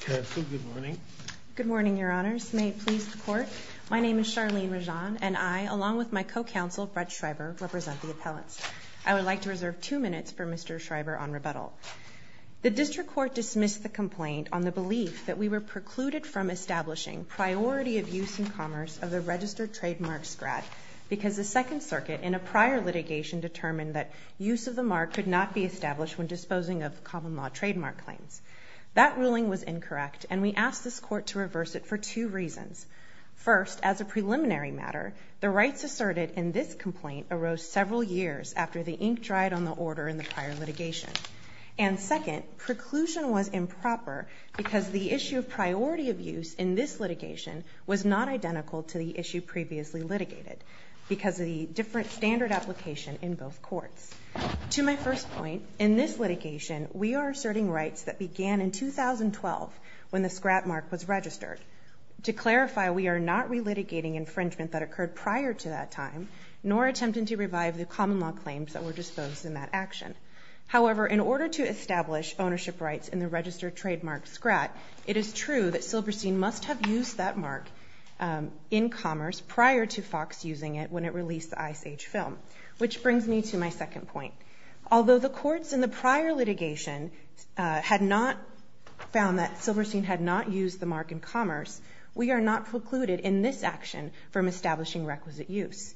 Counsel, good morning. Good morning, Your Honors. May it please the Court. My name is Charlene Rajan, and I, along with my co-counsel, Fred Schreiber, represent the appellants. I would like to reserve two minutes for Mr. Schreiber on rebuttal. The District Court dismissed the complaint on the belief that we were precluded from establishing priority of use in commerce of the registered trademark scrap because the Second Circuit in a prior litigation determined that use of the mark could not be established when disposing of common law trademark claims. That ruling was incorrect, and we asked this Court to reverse it for two reasons. First, as a preliminary matter, the rights asserted in this complaint arose several years after the ink dried on the order in the prior litigation. And second, preclusion was improper because the issue of priority of use in this litigation was not identical to the issue previously litigated because of the different standard application in both courts. To my first point, in this litigation, we are asserting rights that began in 2012 when the scrap mark was registered. To clarify, we are not relitigating infringement that occurred prior to that time, nor attempting to revive the common law claims that were disposed in that action. However, in order to establish ownership rights in the registered trademark scrap, it is true that Silverstein must have used that mark in commerce prior to Fox using it when it released the Ice Age film. Which brings me to my second point. Although the courts in the prior litigation had not found that Silverstein had not used the mark in commerce, we are not precluded in this action from establishing requisite use.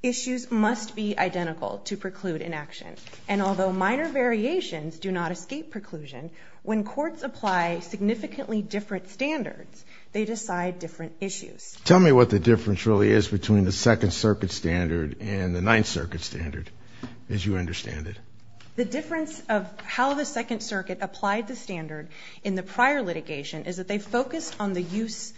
Issues must be identical to preclude inaction. And although minor variations do not escape preclusion, when courts apply significantly different standards, they decide different issues. Tell me what the difference really is between the Second Circuit standard and the Ninth Circuit standard, as you understand it. The difference of how the Second Circuit applied the standard in the prior litigation is that they focused on the use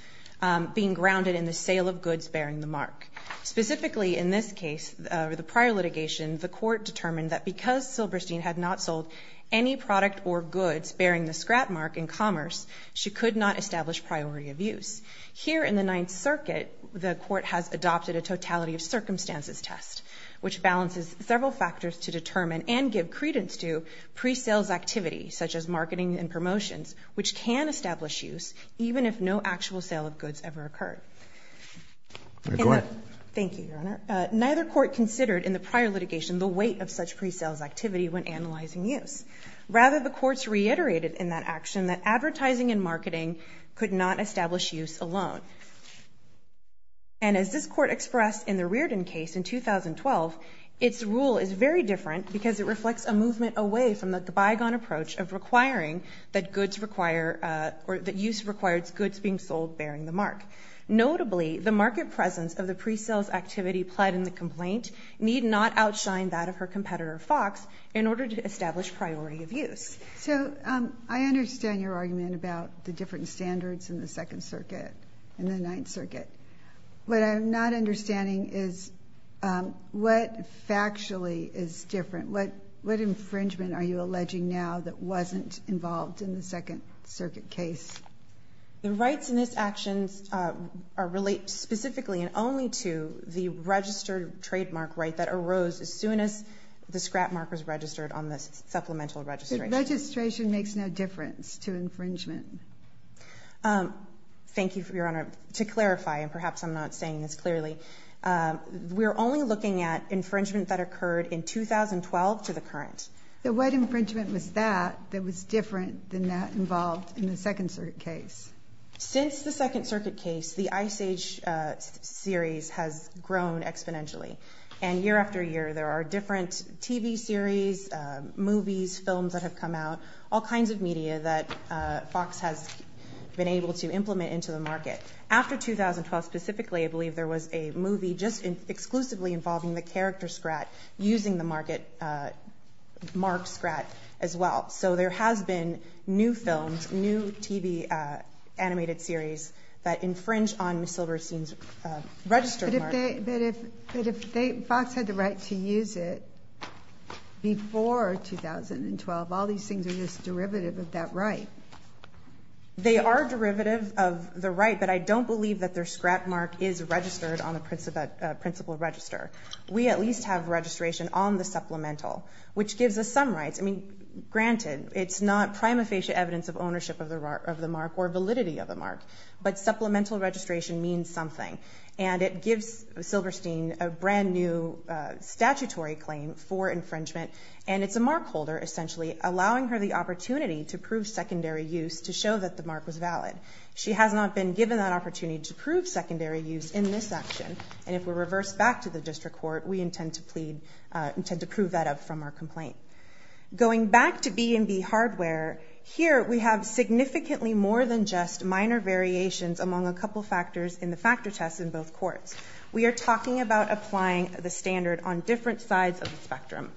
being grounded in the sale of goods bearing the mark. Specifically, in this case, the prior litigation, the court determined that because Silverstein had not sold any product or goods bearing the scrap mark in commerce, she could not establish priority of use. Here in the Ninth Circuit, the court has adopted a totality of circumstances test, which balances several factors to determine and give credence to pre-sales activity, such as marketing and promotions, which can establish use even if no actual sale of goods ever occurred. Go ahead. Thank you, Your Honor. Neither court considered in the prior litigation the weight of such pre-sales activity when analyzing use. Rather, the courts reiterated in that action that advertising and marketing could not establish use alone. And as this Court expressed in the Reardon case in 2012, its rule is very different because it reflects a movement away from the bygone approach of requiring that goods require, or that use requires goods being sold bearing the mark. Notably, the market presence of the pre-sales activity pled in the complaint need not outshine that of her competitor, Fox, in order to establish priority of use. So I understand your argument about the different standards in the Second Circuit and the Ninth Circuit. What I'm not understanding is what factually is different. What infringement are you alleging now that wasn't involved in the Second Circuit case? The rights in this action relate specifically and only to the registered trademark right that arose as soon as the scrap markers registered on the supplemental registration. The registration makes no difference to infringement. Thank you, Your Honor. To clarify, and perhaps I'm not saying this clearly, we're only looking at infringement that occurred in 2012 to the current. The white infringement was that that was different than that involved in the Second Circuit case. Since the Second Circuit case, the Ice Age series has grown exponentially, and year after year there are different TV series, movies, films that have come out, all kinds of media that Fox has been able to implement into the market. After 2012 specifically, I believe there was a movie just exclusively involving the character scrap using the marked scrap as well. So there has been new films, new TV animated series that infringe on Ms. Silverstein's registered mark. But if Fox had the right to use it before 2012, all these things are just derivative of that right. They are derivative of the right, but I don't believe that their scrap mark is registered on the principal register. We at least have registration on the supplemental, which gives us some rights. I mean, granted, it's not prima facie evidence of ownership of the mark or validity of the mark, but supplemental registration means something. And it gives Silverstein a brand-new statutory claim for infringement, and it's a mark holder, essentially, allowing her the opportunity to prove secondary use to show that the mark was valid. She has not been given that opportunity to prove secondary use in this action, and if we're reversed back to the district court, we intend to prove that up from our complaint. Going back to B&B hardware, here we have significantly more than just minor variations among a couple factors in the factor test in both courts. We are talking about applying the standard on different sides of the spectrum.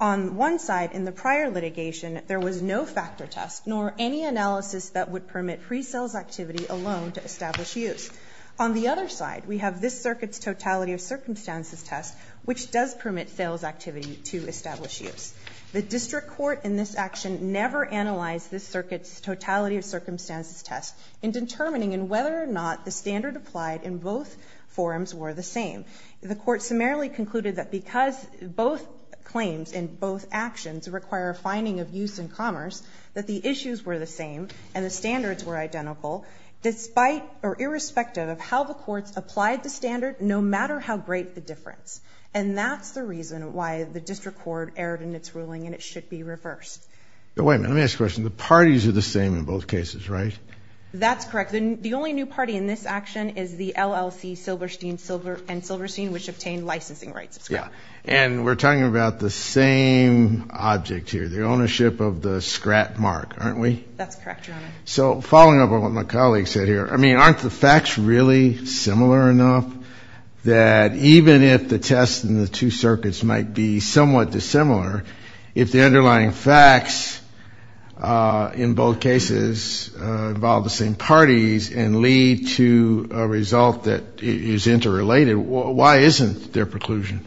On one side, in the prior litigation, there was no factor test, nor any analysis that would permit pre-sales activity alone to establish use. On the other side, we have this circuit's totality of circumstances test, which does permit sales activity to establish use. The district court in this action never analyzed this circuit's totality of circumstances test in determining whether or not the standard applied in both forums were the same. The court summarily concluded that because both claims in both actions require a finding of use in commerce, that the issues were the same and the standards were identical, despite or irrespective of how the courts applied the standard, no matter how great the difference. And that's the reason why the district court erred in its ruling, and it should be reversed. Wait a minute, let me ask a question. The parties are the same in both cases, right? That's correct. The only new party in this action is the LLC Silverstein & Silverstein, which obtained licensing rights. And we're talking about the same object here, the ownership of the scrat mark, aren't we? That's correct, Your Honor. So following up on what my colleague said here, I mean, aren't the facts really similar enough that even if the test in the two circuits might be somewhat dissimilar, if the underlying facts in both cases involve the same parties and lead to a result that is interrelated, why isn't there preclusion?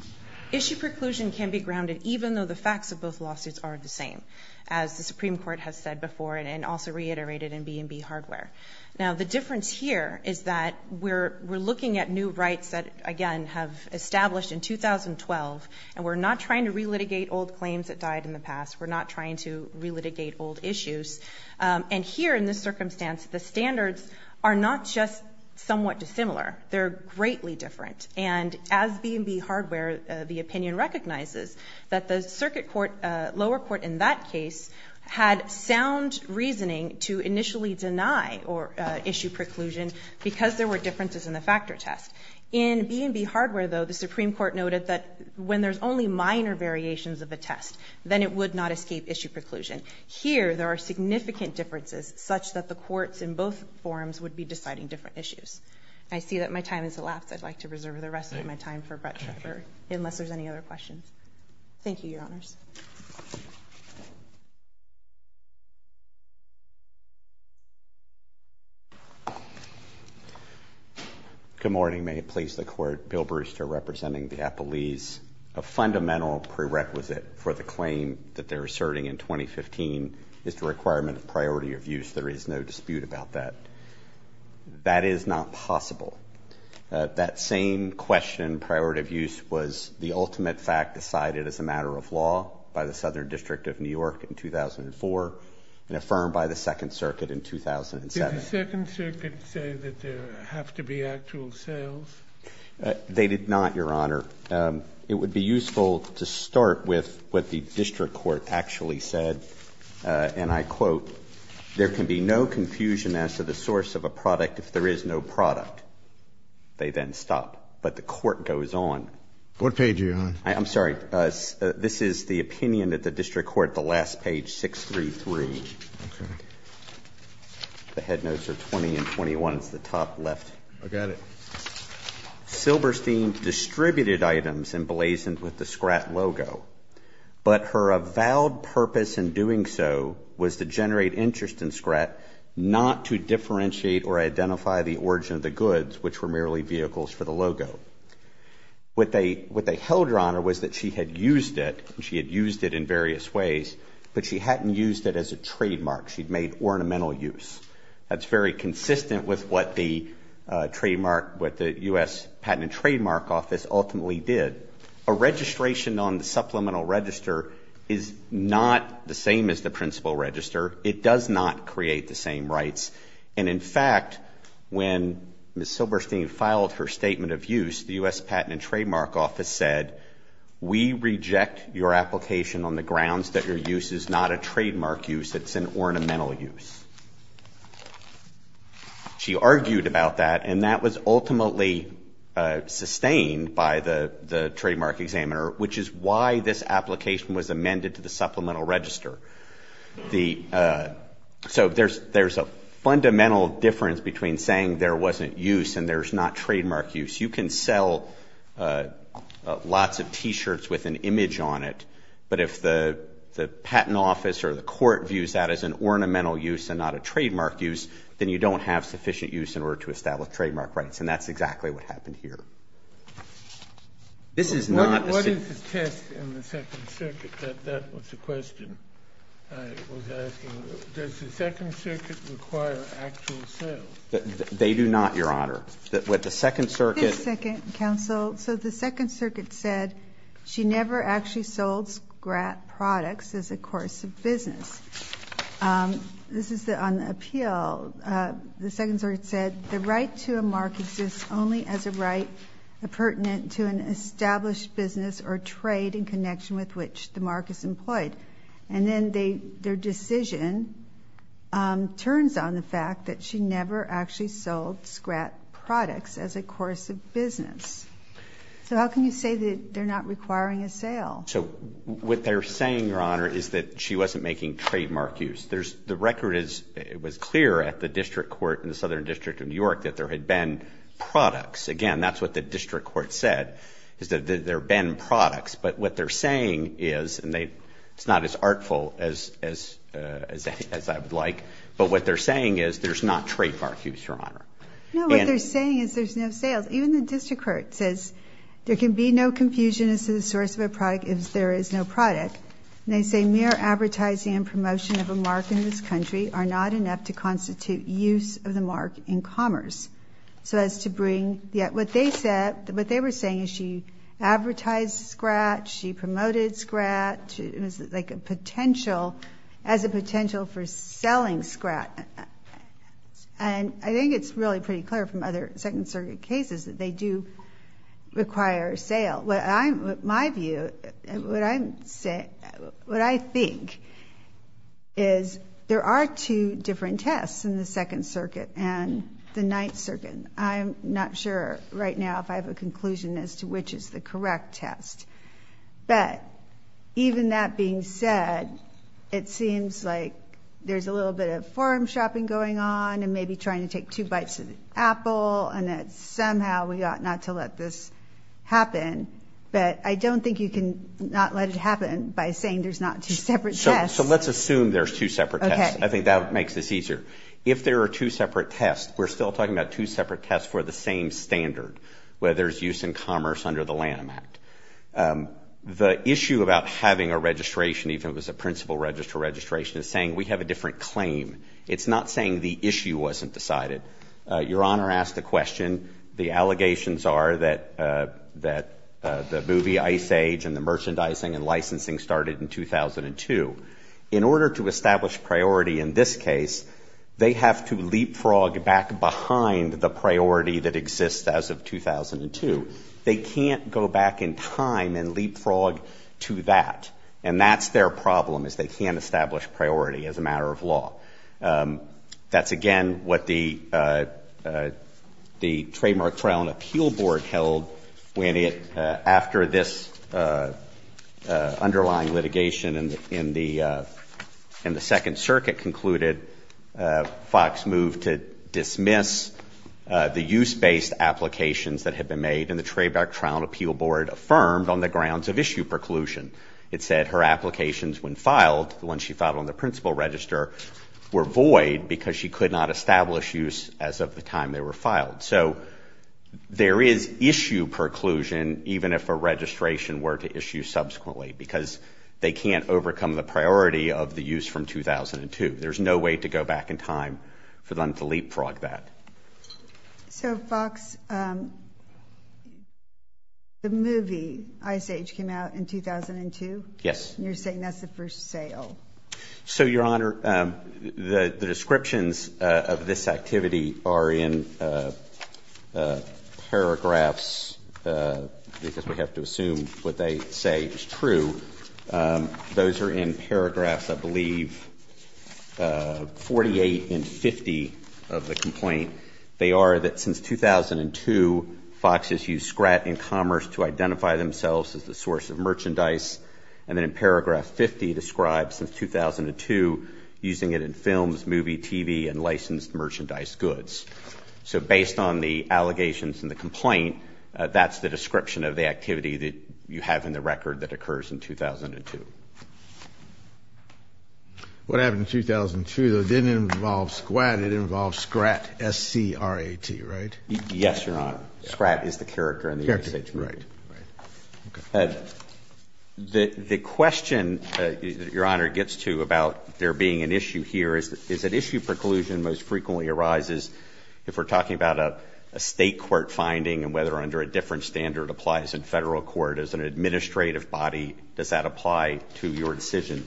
Issue preclusion can be grounded even though the facts of both lawsuits are the same, as the Supreme Court has said before and also reiterated in B&B Hardware. Now, the difference here is that we're looking at new rights that, again, have established in 2012, and we're not trying to relitigate old claims that died in the past. We're not trying to relitigate old issues. And here in this circumstance, the standards are not just somewhat dissimilar. They're greatly different. And as B&B Hardware, the opinion recognizes that the circuit court, lower court in that case, had sound reasoning to initially deny or issue preclusion because there were differences in the factor test. In B&B Hardware, though, the Supreme Court noted that when there's only minor variations of the test, then it would not escape issue preclusion. Here, there are significant differences such that the courts in both forums would be deciding different issues. I see that my time has elapsed. I'd like to reserve the rest of my time for Brett Trevor, unless there's any other questions. Thank you, Your Honors. Good morning. May it please the Court. Bill Brewster, representing the appellees. A fundamental prerequisite for the claim that they're asserting in 2015 is the requirement of priority of use. There is no dispute about that. That is not possible. That same question, priority of use, was the ultimate fact decided as a matter of law. It was decided as a matter of law by the Southern District of New York in 2004 and affirmed by the Second Circuit in 2007. Did the Second Circuit say that there have to be actual sales? They did not, Your Honor. It would be useful to start with what the district court actually said, and I quote, there can be no confusion as to the source of a product if there is no product. They then stop. But the court goes on. What page are you on? I'm sorry. This is the opinion of the district court, the last page, 633. Okay. The head notes are 20 and 21. It's the top left. I got it. Silberstein distributed items emblazoned with the Scrat logo, but her avowed purpose in doing so was to generate interest in Scrat, not to differentiate or identify the origin of the goods, which were merely vehicles for the logo. What they held, Your Honor, was that she had used it, and she had used it in various ways, but she hadn't used it as a trademark. She'd made ornamental use. That's very consistent with what the trademark, what the U.S. Patent and Trademark Office ultimately did. A registration on the supplemental register is not the same as the principal register. It does not create the same rights. And, in fact, when Ms. Silberstein filed her statement of use, the U.S. Patent and Trademark Office said, We reject your application on the grounds that your use is not a trademark use. It's an ornamental use. She argued about that, and that was ultimately sustained by the trademark examiner, which is why this application was amended to the supplemental register. So there's a fundamental difference between saying there wasn't use and there's not trademark use. You can sell lots of T-shirts with an image on it, but if the patent office or the court views that as an ornamental use and not a trademark use, then you don't have sufficient use in order to establish trademark rights, and that's exactly what happened here. This is not a ---- What is the test in the Second Circuit that that was the question I was asking? Does the Second Circuit require actual sales? They do not, Your Honor. What the Second Circuit ---- Just a second, counsel. So the Second Circuit said she never actually sold scrap products as a course of business. This is on the appeal. The Second Circuit said the right to a mark exists only as a right pertinent to an established business or trade in connection with which the mark is employed. And then their decision turns on the fact that she never actually sold scrap products as a course of business. So how can you say that they're not requiring a sale? So what they're saying, Your Honor, is that she wasn't making trademark use. The record was clear at the district court in the Southern District of New York that there had been products. Again, that's what the district court said, is that there had been products. But what they're saying is, and it's not as artful as I would like, but what they're saying is there's not trademark use, Your Honor. No, what they're saying is there's no sales. Even the district court says there can be no confusion as to the source of a product if there is no product. And they say mere advertising and promotion of a mark in this country are not enough to constitute use of the mark in commerce. So as to bring, what they said, what they were saying is she advertised scrap, she promoted scrap, it was like a potential as a potential for selling scrap. And I think it's really pretty clear from other Second Circuit cases that they do require a sale. My view, what I think is there are two different tests in the Second Circuit and the Ninth Circuit. I'm not sure right now if I have a conclusion as to which is the correct test. But even that being said, it seems like there's a little bit of farm shopping going on and maybe trying to take two bites of the apple and that somehow we ought not to let this happen. But I don't think you can not let it happen by saying there's not two separate tests. So let's assume there's two separate tests. I think that makes this easier. If there are two separate tests, we're still talking about two separate tests for the same standard, whether it's use in commerce under the Lamb Act. The issue about having a registration, even if it was a principal registration, is saying we have a different claim. It's not saying the issue wasn't decided. Your Honor asked the question, the allegations are that the movie Ice Age and the merchandising and licensing started in 2002. In order to establish priority in this case, they have to leapfrog back behind the priority that exists as of 2002. They can't go back in time and leapfrog to that. And that's their problem is they can't establish priority as a matter of law. That's, again, what the trademark trial and appeal board held when it, after this underlying litigation in the Second Circuit concluded, Fox moved to dismiss the use-based applications that had been made in the trademark trial and appeal board affirmed on the grounds of issue preclusion. It said her applications when filed, the ones she filed on the principal register, were void because she could not establish use as of the time they were filed. So there is issue preclusion even if a registration were to issue subsequently because they can't overcome the priority of the use from 2002. There's no way to go back in time for them to leapfrog that. So, Fox, the movie Ice Age came out in 2002? Yes. And you're saying that's the first sale? So, Your Honor, the descriptions of this activity are in paragraphs because we have to assume what they say is true. Those are in paragraphs, I believe, 48 and 50 of the complaint. They are that since 2002, Fox has used scrat and commerce to identify themselves as the source of merchandise, and then in paragraph 50 describes since 2002 using it in films, movie, TV, and licensed merchandise goods. So based on the allegations in the complaint, that's the description of the activity that you have in the record that occurs in 2002. What happened in 2002, though, didn't involve scrat. It involved scrat, S-C-R-A-T, right? Yes, Your Honor. Scrat is the character in the Ice Age movie. Character, right. The question that Your Honor gets to about there being an issue here is that issue preclusion most frequently arises if we're talking about a state court finding and whether under a different standard applies in federal court. As an administrative body, does that apply to your decision?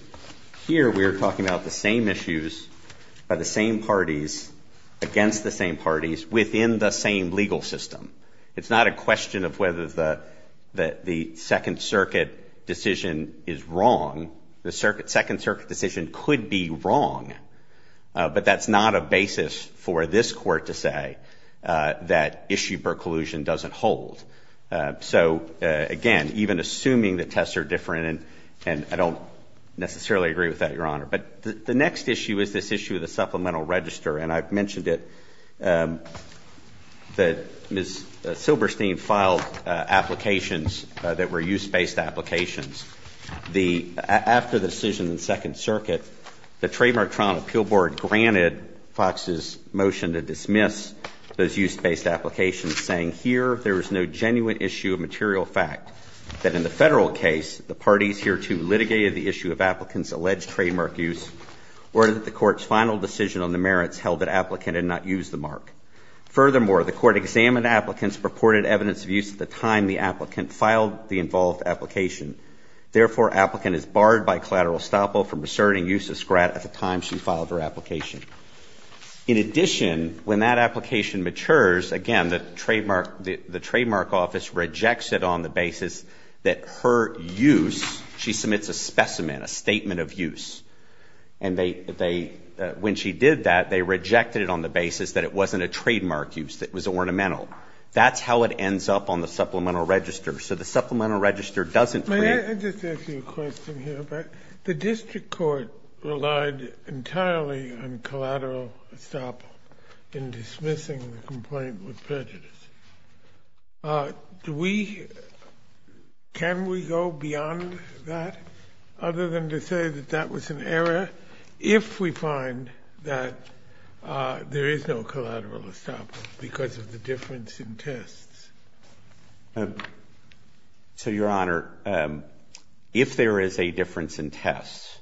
Here we are talking about the same issues by the same parties against the same parties within the same legal system. It's not a question of whether the Second Circuit decision is wrong. The Second Circuit decision could be wrong, but that's not a basis for this court to say that issue preclusion doesn't hold. So, again, even assuming the tests are different, and I don't necessarily agree with that, Your Honor. But the next issue is this issue of the supplemental register, and I've mentioned it. Ms. Silberstein filed applications that were use-based applications. After the decision in the Second Circuit, the Trademark Trial Appeal Board granted Fox's motion to dismiss those use-based applications, saying, here, there is no genuine issue of material fact that in the federal case, the parties hereto litigated the issue of applicants' alleged trademark use, or that the court's final decision on the merits held that applicant had not used the mark. Furthermore, the court examined applicants' purported evidence of use at the time the applicant filed the involved application. Therefore, applicant is barred by collateral estoppel from asserting use of Scrat at the time she filed her application. In addition, when that application matures, again, the trademark office rejects it on the basis that her use, she submits a specimen, a statement of use. And they, when she did that, they rejected it on the basis that it wasn't a trademark use, that it was ornamental. That's how it ends up on the supplemental register. So the supplemental register doesn't create. Can I just ask you a question here? The district court relied entirely on collateral estoppel in dismissing the complaint with prejudice. Do we, can we go beyond that, other than to say that that was an error, if we find that there is no collateral estoppel because of the difference in tests? So, Your Honor, if there is a difference in tests,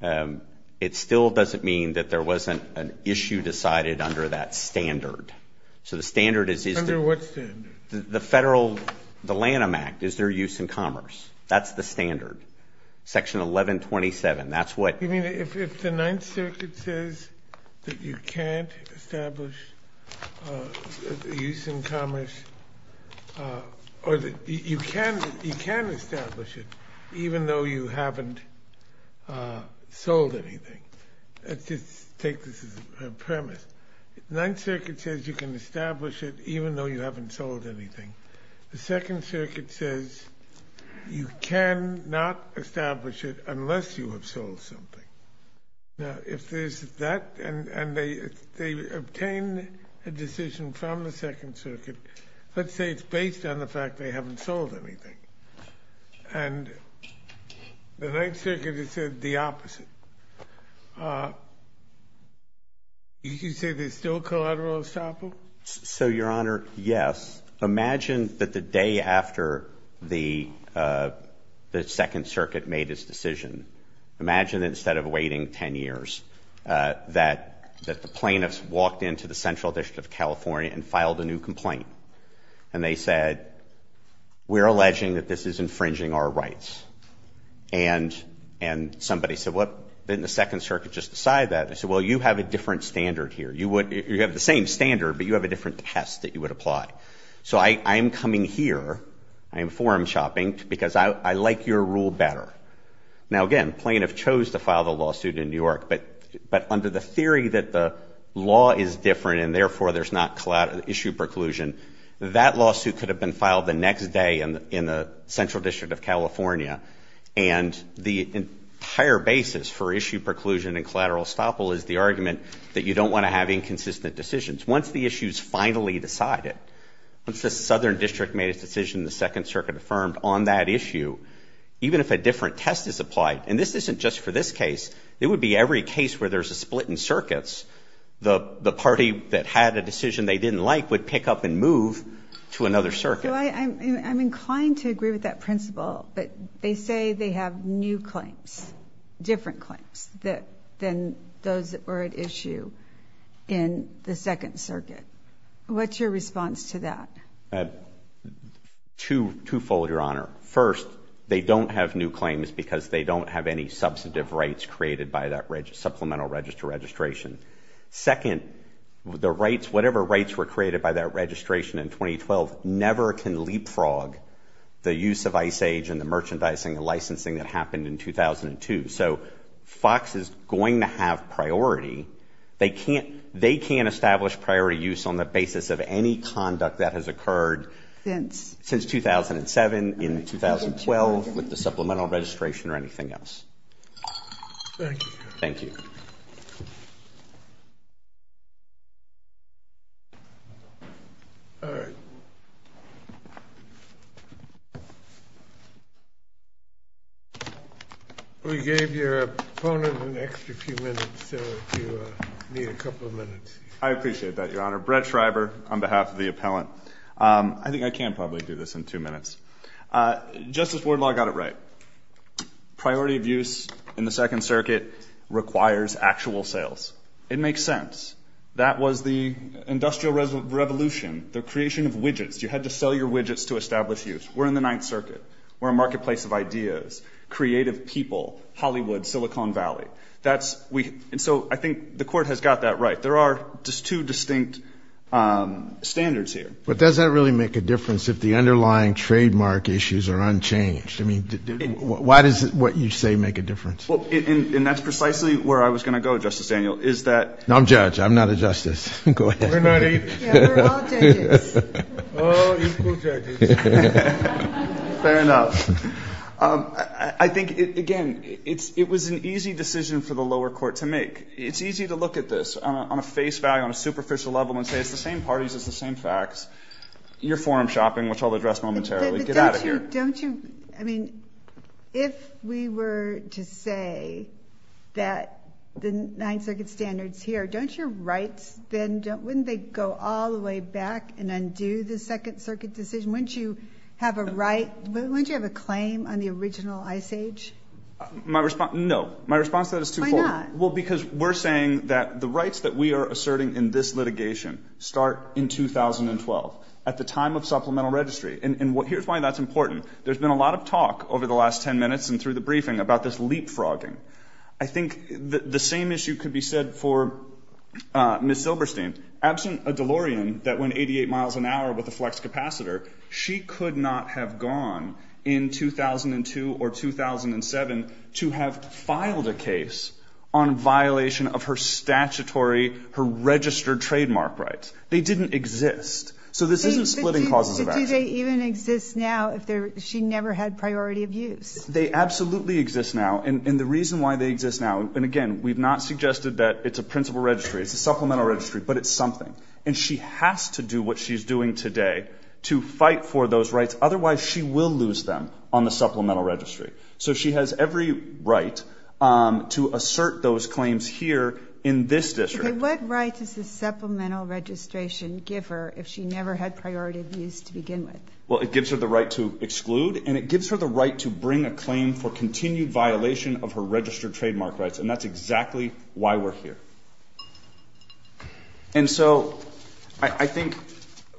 it still doesn't mean that there wasn't an issue decided under that standard. So the standard is, is there. Under what standard? The federal, the Lanham Act, is there use in commerce. That's the standard. Section 1127, that's what. You mean if the Ninth Circuit says that you can't establish use in commerce, or that you can, you can establish it, even though you haven't sold anything. Let's just take this as a premise. Ninth Circuit says you can establish it, even though you haven't sold anything. The Second Circuit says you cannot establish it unless you have sold something. Now, if there's that, and they obtain a decision from the Second Circuit, let's say it's based on the fact they haven't sold anything. And the Ninth Circuit has said the opposite. You can say there's still collateral estoppel? So, Your Honor, yes. Imagine that the day after the Second Circuit made its decision, imagine instead of waiting 10 years that the plaintiffs walked into the Central District of California and filed a new complaint. And they said, we're alleging that this is infringing our rights. And somebody said, what, didn't the Second Circuit just decide that? They said, well, you have a different standard here. You have the same standard, but you have a different test that you would apply. So I am coming here, I am forum shopping, because I like your rule better. Now, again, plaintiffs chose to file the lawsuit in New York, but under the theory that the law is different, and therefore there's not issue preclusion, that lawsuit could have been filed the next day in the Central District of California. And the entire basis for issue preclusion and collateral estoppel is the argument that you don't want to have inconsistent decisions. Once the issue is finally decided, once the Southern District made its decision and the Second Circuit affirmed on that issue, even if a different test is applied, and this isn't just for this case, it would be every case where there's a split in circuits, the party that had a decision they didn't like would pick up and move to another circuit. I'm inclined to agree with that principle, but they say they have new claims, different claims than those that were at issue in the Second Circuit. What's your response to that? Twofold, Your Honor. First, they don't have new claims because they don't have any substantive rights created by that supplemental register registration. Second, the rights, whatever rights were created by that registration in 2012, never can leapfrog the use of Ice Age and the merchandising and licensing that happened in 2002. So Fox is going to have priority. They can't establish priority use on the basis of any conduct that has occurred since 2007, in 2012 with the supplemental registration or anything else. Thank you. Thank you. All right. We gave your opponent an extra few minutes, so if you need a couple of minutes. I appreciate that, Your Honor. Brett Schreiber on behalf of the appellant. Justice Wardlaw got it right. Priority of use in the Second Circuit requires actual sales. It makes sense. That was the Industrial Revolution, the creation of widgets. You had to sell your widgets to establish use. We're in the Ninth Circuit. We're a marketplace of ideas, creative people, Hollywood, Silicon Valley. And so I think the Court has got that right. There are two distinct standards here. But does that really make a difference if the underlying trademark issues are unchanged? I mean, why does what you say make a difference? And that's precisely where I was going to go, Justice Daniel. I'm a judge. I'm not a justice. Go ahead. We're all judges. Fair enough. I think, again, it was an easy decision for the lower court to make. It's easy to look at this on a face value, on a superficial level and say it's the same parties, it's the same facts. You're forum shopping, which I'll address momentarily. Get out of here. Don't you, I mean, if we were to say that the Ninth Circuit standards here, don't your rights then, wouldn't they go all the way back and undo the Second Circuit decision? Wouldn't you have a right, wouldn't you have a claim on the original Ice Age? My response, no. My response to that is too cold. Why not? Well, because we're saying that the rights that we are asserting in this litigation start in 2012, at the time of supplemental registry. And here's why that's important. There's been a lot of talk over the last 10 minutes and through the briefing about this leapfrogging. I think the same issue could be said for Ms. Silberstein. Absent a DeLorean that went 88 miles an hour with a flex capacitor, she could not have gone in 2002 or 2007 to have filed a case on violation of her statutory, her registered trademark rights. They didn't exist. So this isn't splitting causes of action. Do they even exist now if she never had priority of use? They absolutely exist now. And the reason why they exist now, and again, we've not suggested that it's a principal registry, it's a supplemental registry, but it's something. And she has to do what she's doing today to fight for those rights. Otherwise, she will lose them on the supplemental registry. So she has every right to assert those claims here in this district. What right does the supplemental registration give her if she never had priority of use to begin with? Well, it gives her the right to exclude and it gives her the right to bring a claim for continued violation of her registered trademark rights. And that's exactly why we're here. And so I think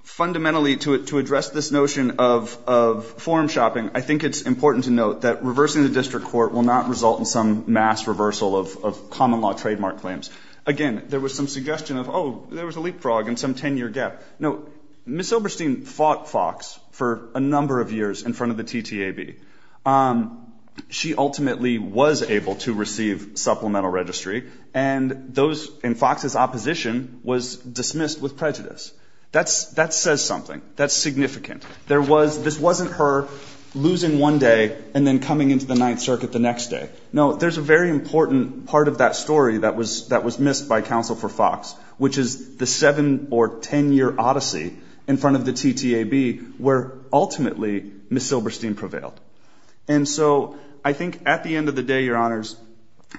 fundamentally to address this notion of forum shopping, I think it's important to note that reversing the district court will not result in some mass reversal of common law trademark claims. Again, there was some suggestion of, oh, there was a leapfrog in some 10-year gap. No. Ms. Oberstein fought Fox for a number of years in front of the TTAB. She ultimately was able to receive supplemental registry, and Fox's opposition was dismissed with prejudice. That says something. That's significant. This wasn't her losing one day and then coming into the Ninth Circuit the next day. No, there's a very important part of that story that was missed by counsel for Fox, which is the 7- or 10-year odyssey in front of the TTAB, where ultimately Ms. Oberstein prevailed. And so I think at the end of the day, Your Honors,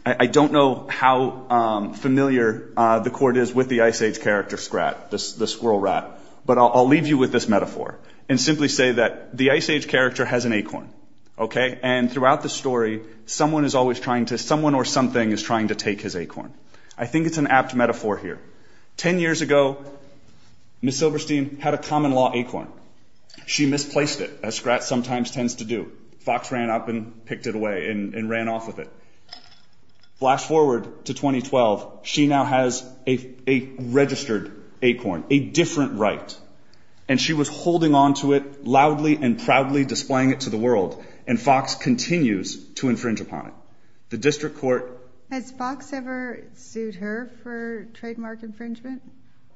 I don't know how familiar the court is with the Ice Age character Scrat, the squirrel rat, but I'll leave you with this metaphor and simply say that the Ice Age character has an acorn, okay? And throughout the story, someone or something is trying to take his acorn. I think it's an apt metaphor here. Ten years ago, Ms. Oberstein had a common law acorn. She misplaced it, as Scrat sometimes tends to do. Fox ran up and picked it away and ran off with it. Flash forward to 2012. She now has a registered acorn, a different right, and she was holding onto it loudly and proudly, displaying it to the world, and Fox continues to infringe upon it. The district court. Has Fox ever sued her for trademark infringement?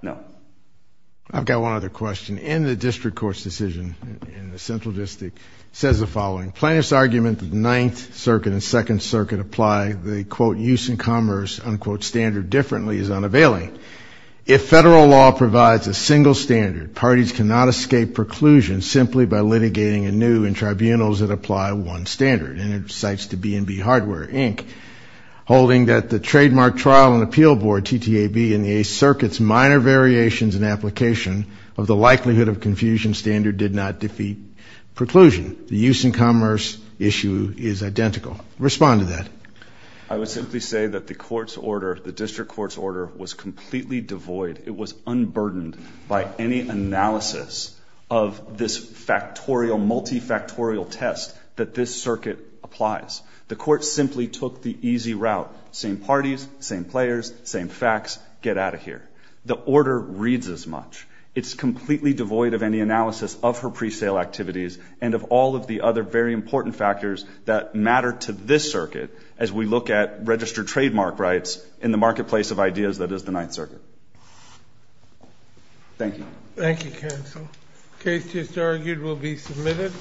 No. I've got one other question. In the district court's decision in the central district, it says the following. Plaintiff's argument that the Ninth Circuit and Second Circuit apply the, quote, use and commerce, unquote, standard differently is unavailing. If federal law provides a single standard, parties cannot escape preclusion simply by litigating anew in tribunals that apply one standard. And it cites the B&B Hardware, Inc., holding that the trademark trial and appeal board, TTAB, and the Eighth Circuit's minor variations in application of the likelihood of confusion standard did not defeat preclusion. The use and commerce issue is identical. Respond to that. I would simply say that the court's order, the district court's order, was completely devoid. It was unburdened by any analysis of this factorial, multifactorial test that this circuit applies. The court simply took the easy route, same parties, same players, same facts, get out of here. The order reads as much. It's completely devoid of any analysis of her presale activities and of all of the other very important factors that matter to this circuit as we look at registered trademark rights in the marketplace of ideas that is the Ninth Circuit. Thank you. Thank you, counsel. Case just argued will be submitted.